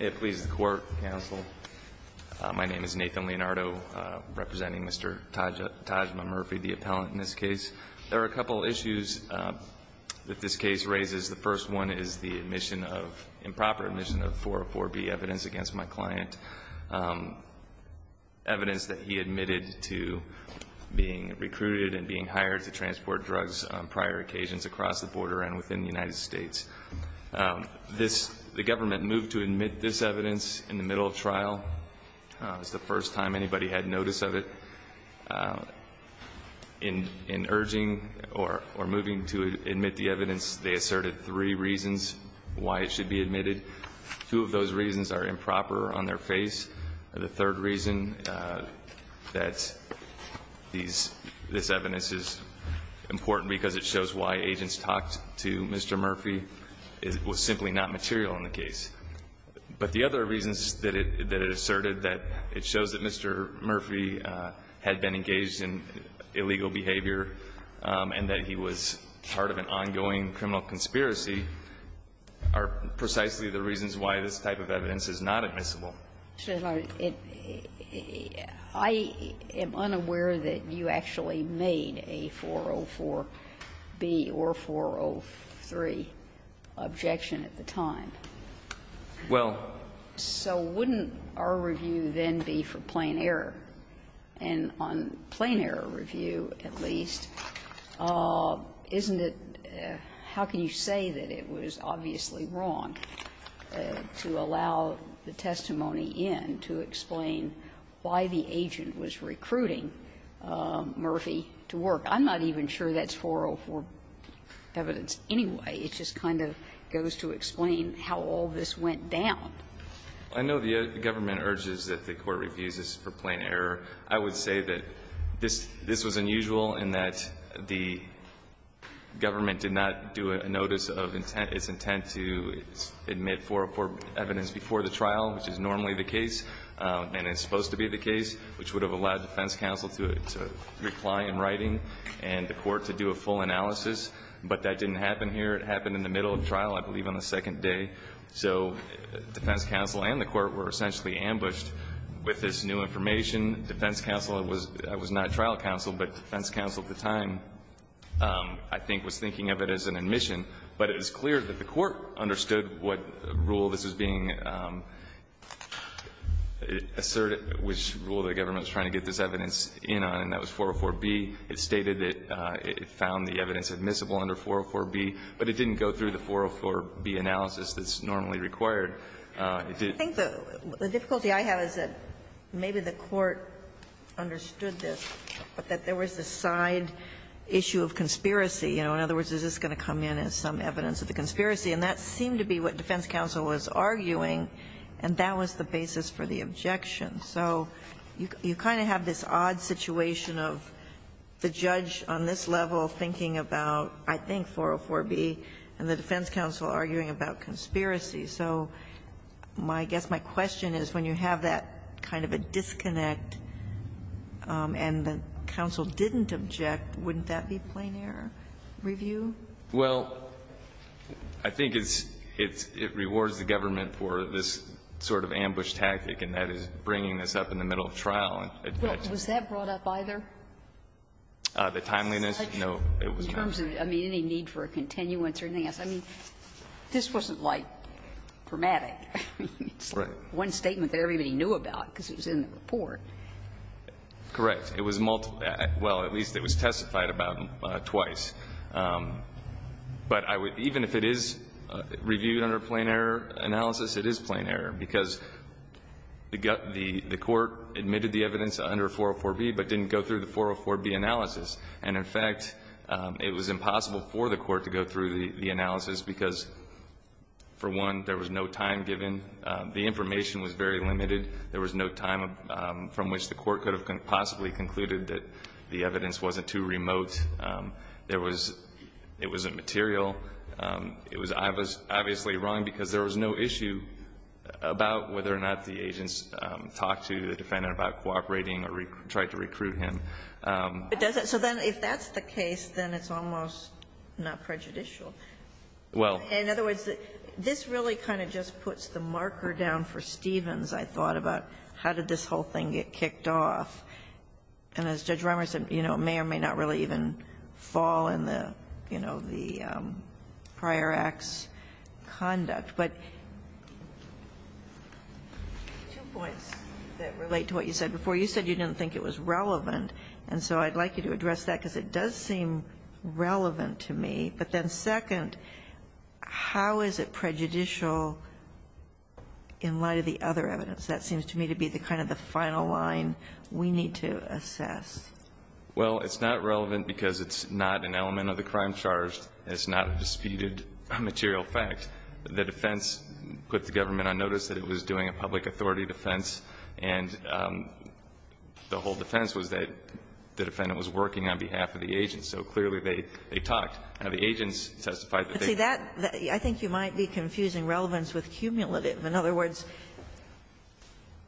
It pleases the Court, Counsel. My name is Nathan Leonardo, representing Mr. Tajma Murphy, the appellant in this case. There are a couple issues that this case raises. The first one is the improper admission of 404B evidence against my client, evidence that he admitted to being recruited and being hired to transport drugs on prior occasions across the border and within the United States. The government moved to admit this evidence in the middle of trial. It was the first time anybody had notice of it. In urging or moving to admit the evidence, they asserted three reasons why it should be admitted. Two of those reasons are improper on their face. And the third reason that these – this evidence is important because it shows why agents talked to Mr. Murphy was simply not material in the case. But the other reasons that it asserted, that it shows that Mr. Murphy had been engaged in illegal behavior and that he was part of an ongoing criminal conspiracy, are precisely the reasons why this type of evidence is not admissible. Sotomayor, it – I am unaware that you actually made a 404B or 403 objection at the time. Well – So wouldn't our review then be for plain error? And on plain error review, at least, isn't it – how can you say that it was obviously wrong to allow the testimony in to explain why the agent was recruiting Murphy to work? I'm not even sure that's 404 evidence anyway. It just kind of goes to explain how all this went down. I know the government urges that the Court reviews this for plain error. I would say that this was unusual in that the government did not do a notice of its intent to admit 404 evidence before the trial, which is normally the case. And it's supposed to be the case, which would have allowed the defense counsel to reply in writing and the Court to do a full analysis. But that didn't happen here. It happened in the middle of trial, I believe, on the second day. So defense counsel and the Court were essentially ambushed with this new information. Defense counsel was not trial counsel, but defense counsel at the time I think was thinking of it as an admission. But it was clear that the Court understood what rule this was being asserted, which rule the government was trying to get this evidence in on, and that was 404B. It stated that it found the evidence admissible under 404B, but it didn't go through the 404B analysis that's normally required. It did not. Ginsburg. I think the difficulty I have is that maybe the Court understood this, but that there was a side issue of conspiracy. You know, in other words, is this going to come in as some evidence of the conspiracy? And that seemed to be what defense counsel was arguing, and that was the basis for the objection. So you kind of have this odd situation of the judge on this level thinking about, I think, 404B, and the defense counsel arguing about conspiracy. So my guess, my question is, when you have that kind of a disconnect and the counsel didn't object, wouldn't that be plain-error review? Well, I think it's – it rewards the government for this sort of ambush tactic, and that is bringing this up in the middle of trial. Well, was that brought up either? The timeliness? No. In terms of, I mean, any need for a continuance or anything else. I mean, this wasn't, like, dramatic. Right. It's one statement that everybody knew about because it was in the report. Correct. It was multiple – well, at least it was testified about twice. But I would – even if it is reviewed under plain-error analysis, it is plain-error, because the court admitted the evidence under 404B but didn't go through the 404B analysis. And, in fact, it was impossible for the court to go through the analysis because, for one, there was no time given. The information was very limited. There was no time from which the court could have possibly concluded that the evidence wasn't too remote. There was – it wasn't material. It was – I was obviously wrong because there was no issue about whether or not the agents talked to the defendant about cooperating or tried to recruit him. But does it – so then if that's the case, then it's almost not prejudicial. Well – In other words, this really kind of just puts the marker down for Stevens, I thought, about how did this whole thing get kicked off. And as Judge Rimer said, you know, it may or may not really even fall in the – you know, the prior act's conduct. But two points that relate to what you said before. You said you didn't think it was relevant. And so I'd like you to address that because it does seem relevant to me. But then, second, how is it prejudicial in light of the other evidence? That seems to me to be the kind of the final line we need to assess. Well, it's not relevant because it's not an element of the crime charged. It's not a disputed material fact. The defense put the government on notice that it was doing a public authority defense. And the whole defense was that the defendant was working on behalf of the agent. So clearly, they talked. Now, the agents testified that they – See, that – I think you might be confusing relevance with cumulative. In other words,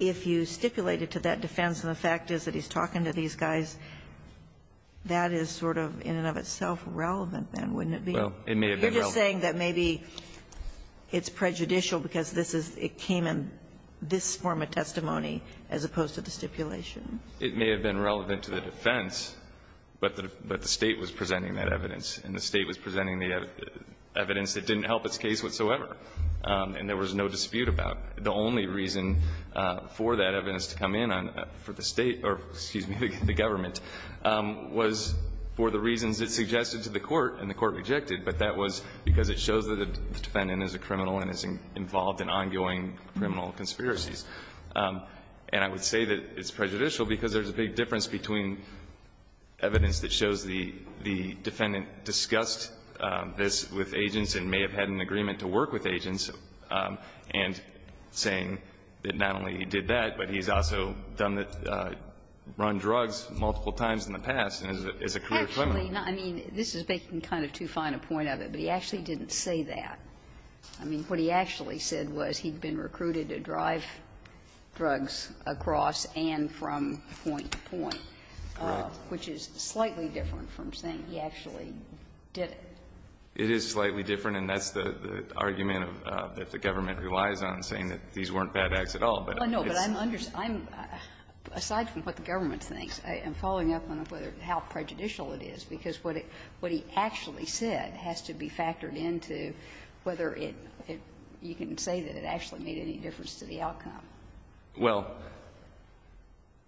if you stipulated to that defense, and the fact is that he's talking to these guys, that is sort of in and of itself relevant, then, wouldn't it be? Well, it may have been relevant. You're just saying that maybe it's prejudicial because this is – it came in this form of testimony as opposed to the stipulation. It may have been relevant to the defense, but the State was presenting that evidence. And the State was presenting the evidence that didn't help its case whatsoever. And there was no dispute about it. The only reason for that evidence to come in on – for the State – or, excuse me, the government – was for the reasons it suggested to the court, and the court rejected. But that was because it shows that the defendant is a criminal and is involved in ongoing criminal conspiracies. And I would say that it's prejudicial because there's a big difference between evidence that shows the defendant discussed this with agents and may have had an agreement to work with agents and saying that not only did that, but he's also done the – run drugs multiple times in the past and is a career criminal. Actually, I mean, this is making kind of too fine a point of it, but he actually didn't say that. I mean, what he actually said was he'd been recruited to drive drugs across and from point to point, which is slightly different from saying he actually did it. It is slightly different, and that's the argument that the government relies on, saying that these weren't bad acts at all. But it's not. No, but I'm – aside from what the government thinks, I'm following up on how prejudicial it is, because what he actually said has to be factored into whether it – you can say that it actually made any difference to the outcome. Well,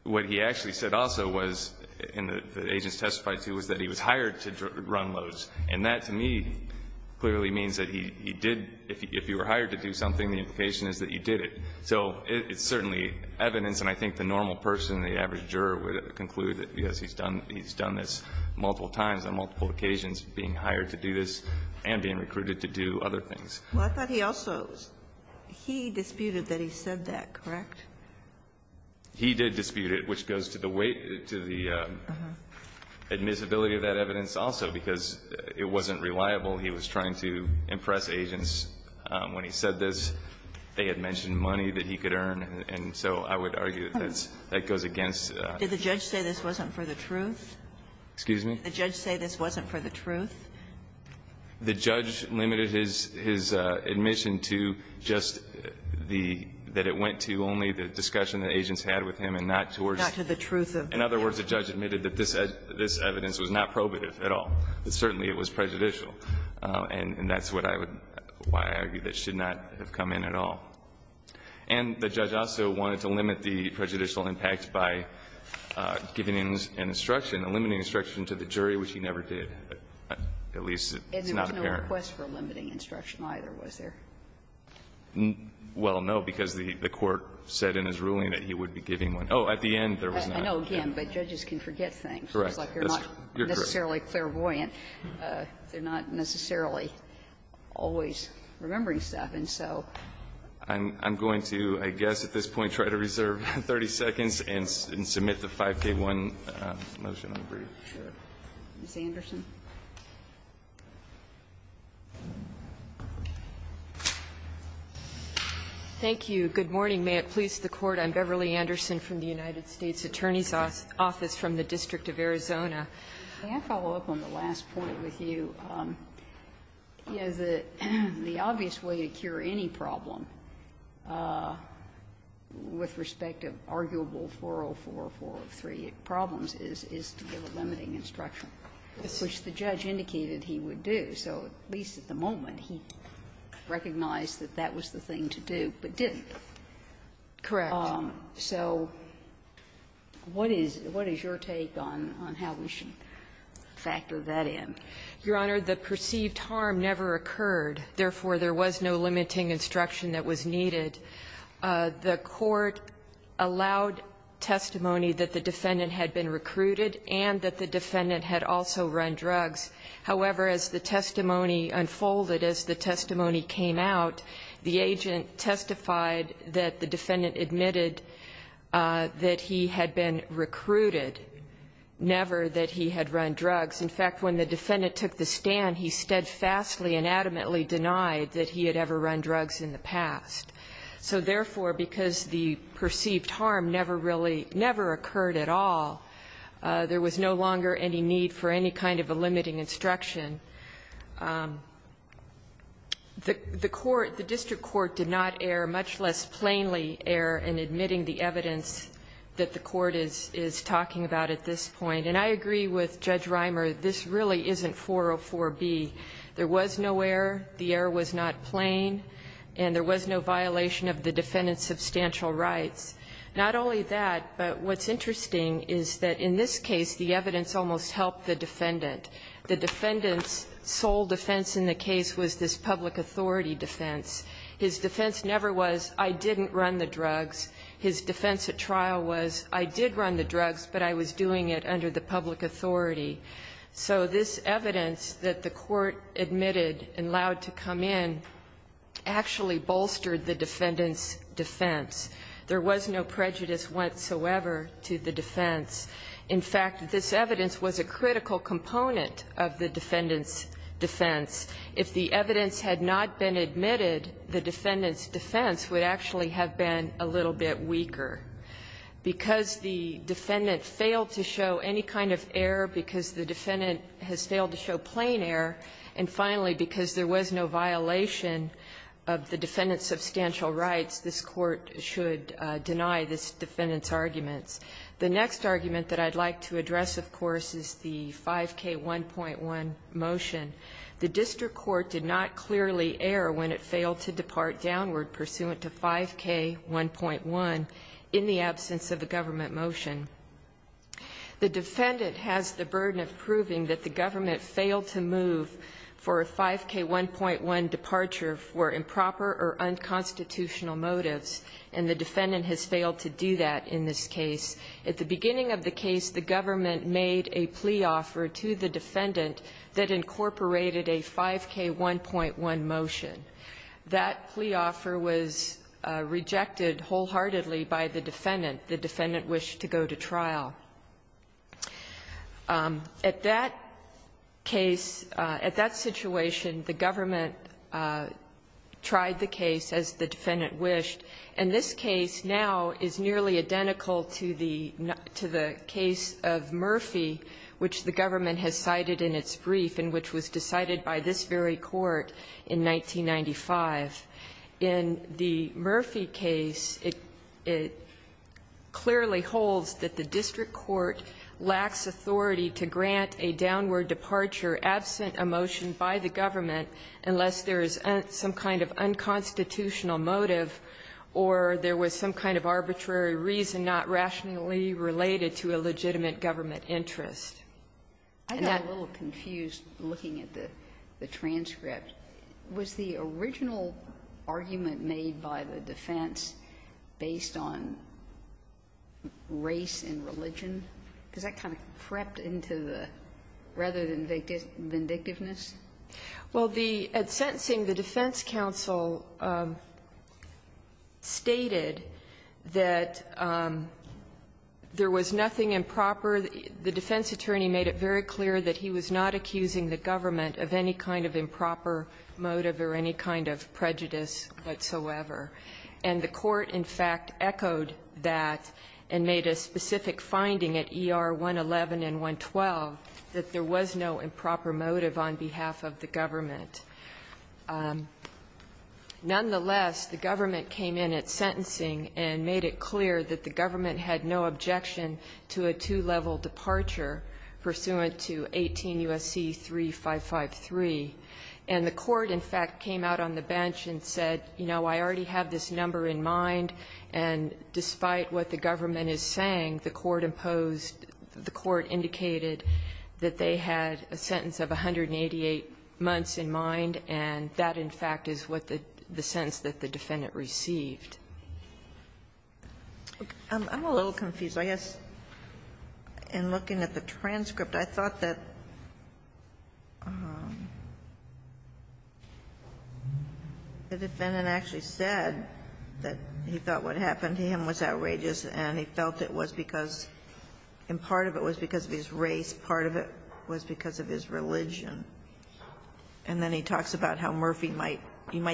what he actually said also was, and the agents testified to, was that he was doing it, which to me clearly means that he did – if you were hired to do something, the implication is that you did it. So it's certainly evidence, and I think the normal person, the average juror, would conclude that, yes, he's done this multiple times on multiple occasions, being hired to do this and being recruited to do other things. Well, I thought he also – he disputed that he said that, correct? He did dispute it, which goes to the weight – to the admissibility of that evidence also, because it wasn't reliable. He was trying to impress agents. When he said this, they had mentioned money that he could earn, and so I would argue that that's – that goes against – Did the judge say this wasn't for the truth? Excuse me? Did the judge say this wasn't for the truth? The judge limited his – his admission to just the – that it went to only the discussion Not to the truth of the evidence. In other words, the judge admitted that this evidence was not probative at all, that certainly it was prejudicial, and that's what I would – why I argue that should not have come in at all. And the judge also wanted to limit the prejudicial impact by giving an instruction – a limiting instruction to the jury, which he never did, at least it's not apparent. And there was no request for a limiting instruction either, was there? Well, no, because the Court said in his ruling that he would be giving one. Oh, at the end, there was not. I know, again, but judges can forget things. Correct. It's like you're not necessarily clairvoyant. They're not necessarily always remembering stuff. And so I'm going to, I guess at this point, try to reserve 30 seconds and submit the 5K1 motion. I'm pretty sure. Thank you. Good morning. May it please the Court. I'm Beverly Anderson from the United States Attorney's Office from the District of Arizona. May I follow up on the last point with you? You know, the obvious way to cure any problem with respect to arguable 404, 403 problems is to give a limiting instruction, which the judge indicated he would do. So at least at the moment, he recognized that that was the thing to do, but didn't. Correct. So what is your take on how we should factor that in? Your Honor, the perceived harm never occurred. Therefore, there was no limiting instruction that was needed. The Court allowed testimony that the defendant had been recruited and that the defendant had also run drugs. However, as the testimony unfolded, as the testimony came out, the agent testified that the defendant admitted that he had been recruited, never that he had run drugs. In fact, when the defendant took the stand, he steadfastly and adamantly denied that he had ever run drugs in the past. So therefore, because the perceived harm never really never occurred at all, there was no longer any need for any kind of a limiting instruction. The court, the district court did not err, much less plainly err in admitting the evidence that the court is talking about at this point. And I agree with Judge Reimer, this really isn't 404b. There was no error. The error was not plain. And there was no violation of the defendant's substantial rights. Not only that, but what's interesting is that in this case, the evidence almost helped the defendant. The defendant's sole defense in the case was this public authority defense. His defense never was, I didn't run the drugs. His defense at trial was, I did run the drugs, but I was doing it under the public authority. So this evidence that the court admitted and allowed to come in actually bolstered the defendant's defense. There was no prejudice whatsoever to the defense. In fact, this evidence was a critical component of the defendant's defense. If the evidence had not been admitted, the defendant's defense would actually have been a little bit weaker. Because the defendant failed to show any kind of error, because the defendant has failed to show plain error, and finally, because there was no violation of the defendant's substantial rights, this Court should deny this defendant's argument. The next argument that I'd like to address, of course, is the 5K1.1 motion. The district court did not clearly err when it failed to depart downward pursuant to 5K1.1 in the absence of a government motion. The defendant has the burden of proving that the government failed to move for a 5K1.1 departure for improper or unconstitutional motives, and the defendant has failed to do that in this case. At the beginning of the case, the government made a plea offer to the defendant that incorporated a 5K1.1 motion. That plea offer was rejected wholeheartedly by the defendant. The defendant wished to go to trial. At that case, at that situation, the government tried the case as the defendant wished, and this case now is nearly identical to the case of Murphy, which the government has cited in its brief and which was decided by this very court in 1995. In the Murphy case, it clearly holds that the district court lacks authority to grant a downward departure absent a motion by the government unless there is some kind of unconstitutional motive or there was some kind of arbitrary reason not rationally related to a legitimate government interest. And that was the original argument made by the defense based on race and religion? Because that kind of crept into the rather than vindictiveness? Well, the at sentencing, the defense counsel stated that there was nothing improper. The defense attorney made it very clear that he was not accusing the government of any kind of improper motive or any kind of prejudice whatsoever. And the court, in fact, echoed that and made a specific finding at ER 111 and 112 that there was no improper motive on behalf of the government. Nonetheless, the government came in at sentencing and made it clear that the government had no objection to a two-level departure pursuant to 18 U.S.C. 3553. And the court, in fact, came out on the bench and said, you know, I already have this number in mind, and despite what the government is saying, the court imposed the court indicated that they had a sentence of 188 months in mind, and that, in fact, is what the sentence that the defendant received. I'm a little confused. I guess in looking at the transcript, I thought that the defendant actually said that he thought what happened to him was outrageous, and he felt it was because of his race, part of it was because of his religion. And then he talks about how Murphy might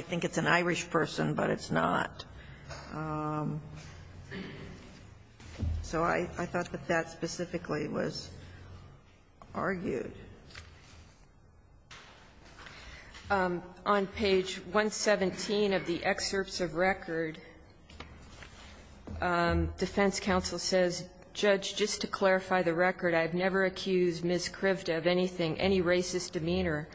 think it's an Irish person, but it's not. So I thought that that specifically was argued. On page 117 of the excerpts of record, defense counsel says, Judge, just to clarify the record, I've never accused Ms. Krivda of anything, any racist demeanor.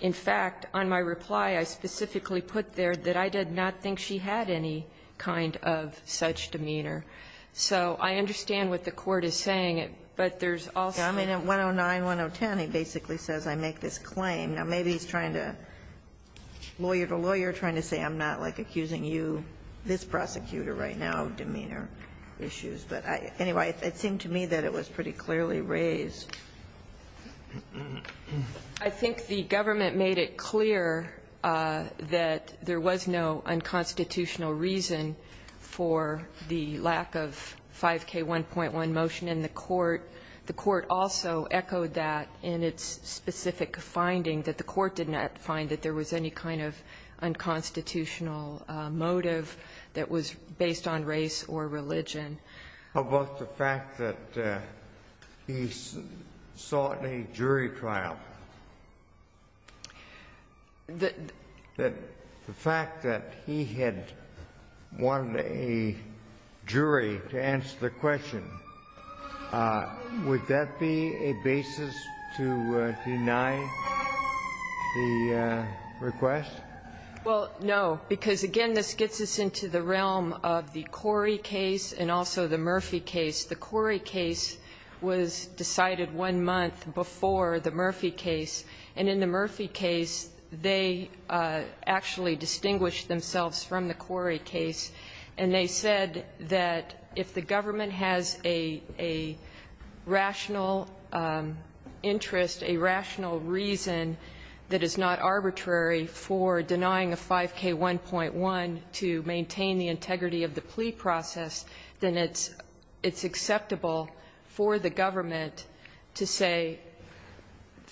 In fact, on my reply, I specifically put there that I did not think she had any kind of such demeanor. So I understand what the court is saying, but there's also the question of whether the defendant had a racist demeanor. And I think that's what the court is trying to say. And I think that's what the court is trying to say, and I think that's what the court is trying to say. But anyway, it seemed to me that it was pretty clearly raised. I think the government made it clear that there was no unconstitutional reason for the lack of 5K1.1 motion in the court. The court also echoed that in its specific finding, that the court did not find that there was any kind of unconstitutional motive that was based on race or religion. How about the fact that he sought a jury trial? The fact that he had wanted a jury to answer the question, would that be a basis to deny the request? Well, no, because, again, this gets us into the realm of the Corey case and also the Murphy case. The Corey case was decided one month before the Murphy case, and in the Murphy case, they actually distinguished themselves from the Corey case. And they said that if the government has a rational interest, a rational reason that is not arbitrary for denying a 5K1.1 to maintain the integrity of the plea process, then it's acceptable for the government to say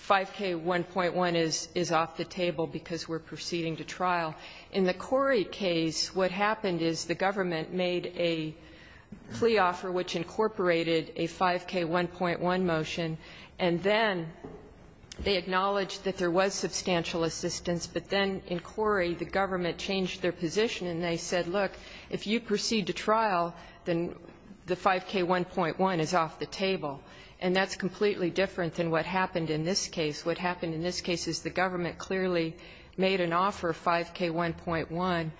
5K1.1 is off the table because we're proceeding to trial. In the Corey case, what happened is the government made a plea offer which incorporated a 5K1.1 motion, and then they acknowledged that there was substantial assistance, but then in Corey, the government changed their position and they said, look, if you proceed to trial, then the 5K1.1 is off the table. And that's completely different than what happened in this case. What happened in this case is the government clearly made an offer, 5K1.1,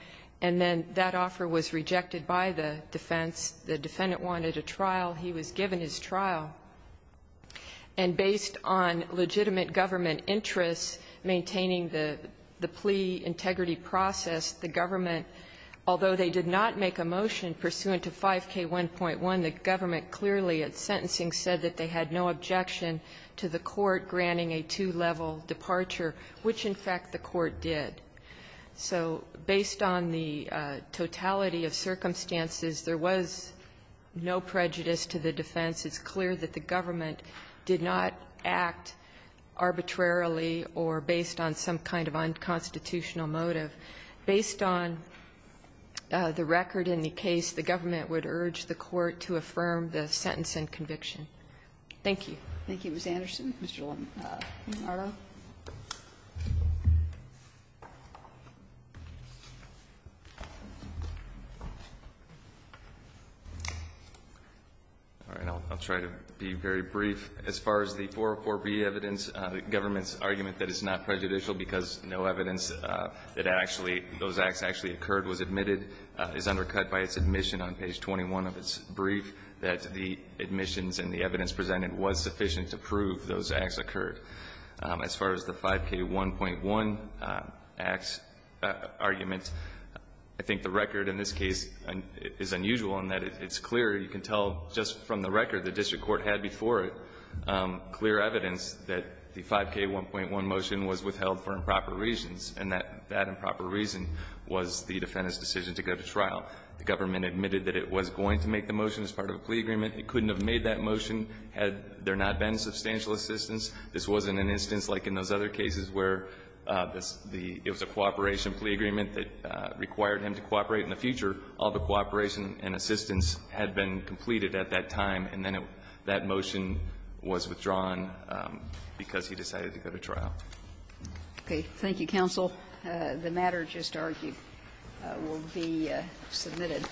and then that offer was rejected by the defense. The defendant wanted a trial. He was given his trial. And based on legitimate government interests maintaining the plea integrity process, the government, although they did not make a motion pursuant to 5K1.1, the government clearly at sentencing said that they had no objection to the court granting a two-level departure, which, in fact, the court did. So based on the totality of circumstances, there was no prejudice to the defense. It's clear that the government did not act arbitrarily or based on some kind of unconstitutional motive. Based on the record in the case, the government would urge the court to affirm the sentence and conviction. Thank you. Thank you, Ms. Anderson. Mr. Lamarto. All right. I'll try to be very brief. As far as the 404B evidence, the government's argument that it's not prejudicial because no evidence that actually those acts actually occurred was admitted is undercut by its admission on page 21 of its brief that the admissions and the evidence presented was sufficient to prove those acts occurred. As far as the 5K1.1 acts argument, I think the record in this case is unusual in that it's clear. You can tell just from the record the district court had before it clear evidence that the 5K1.1 motion was withheld for improper reasons, and that improper reason was the defendant's decision to go to trial. The government admitted that it was going to make the motion as part of a plea agreement. It couldn't have made that motion had there not been substantial assistance. This wasn't an instance like in those other cases where it was a cooperation plea agreement that required him to cooperate in the future. All the cooperation and assistance had been completed at that time, and then that motion was withdrawn because he decided to go to trial. Okay. Thank you, counsel. The matter just argued will be submitted.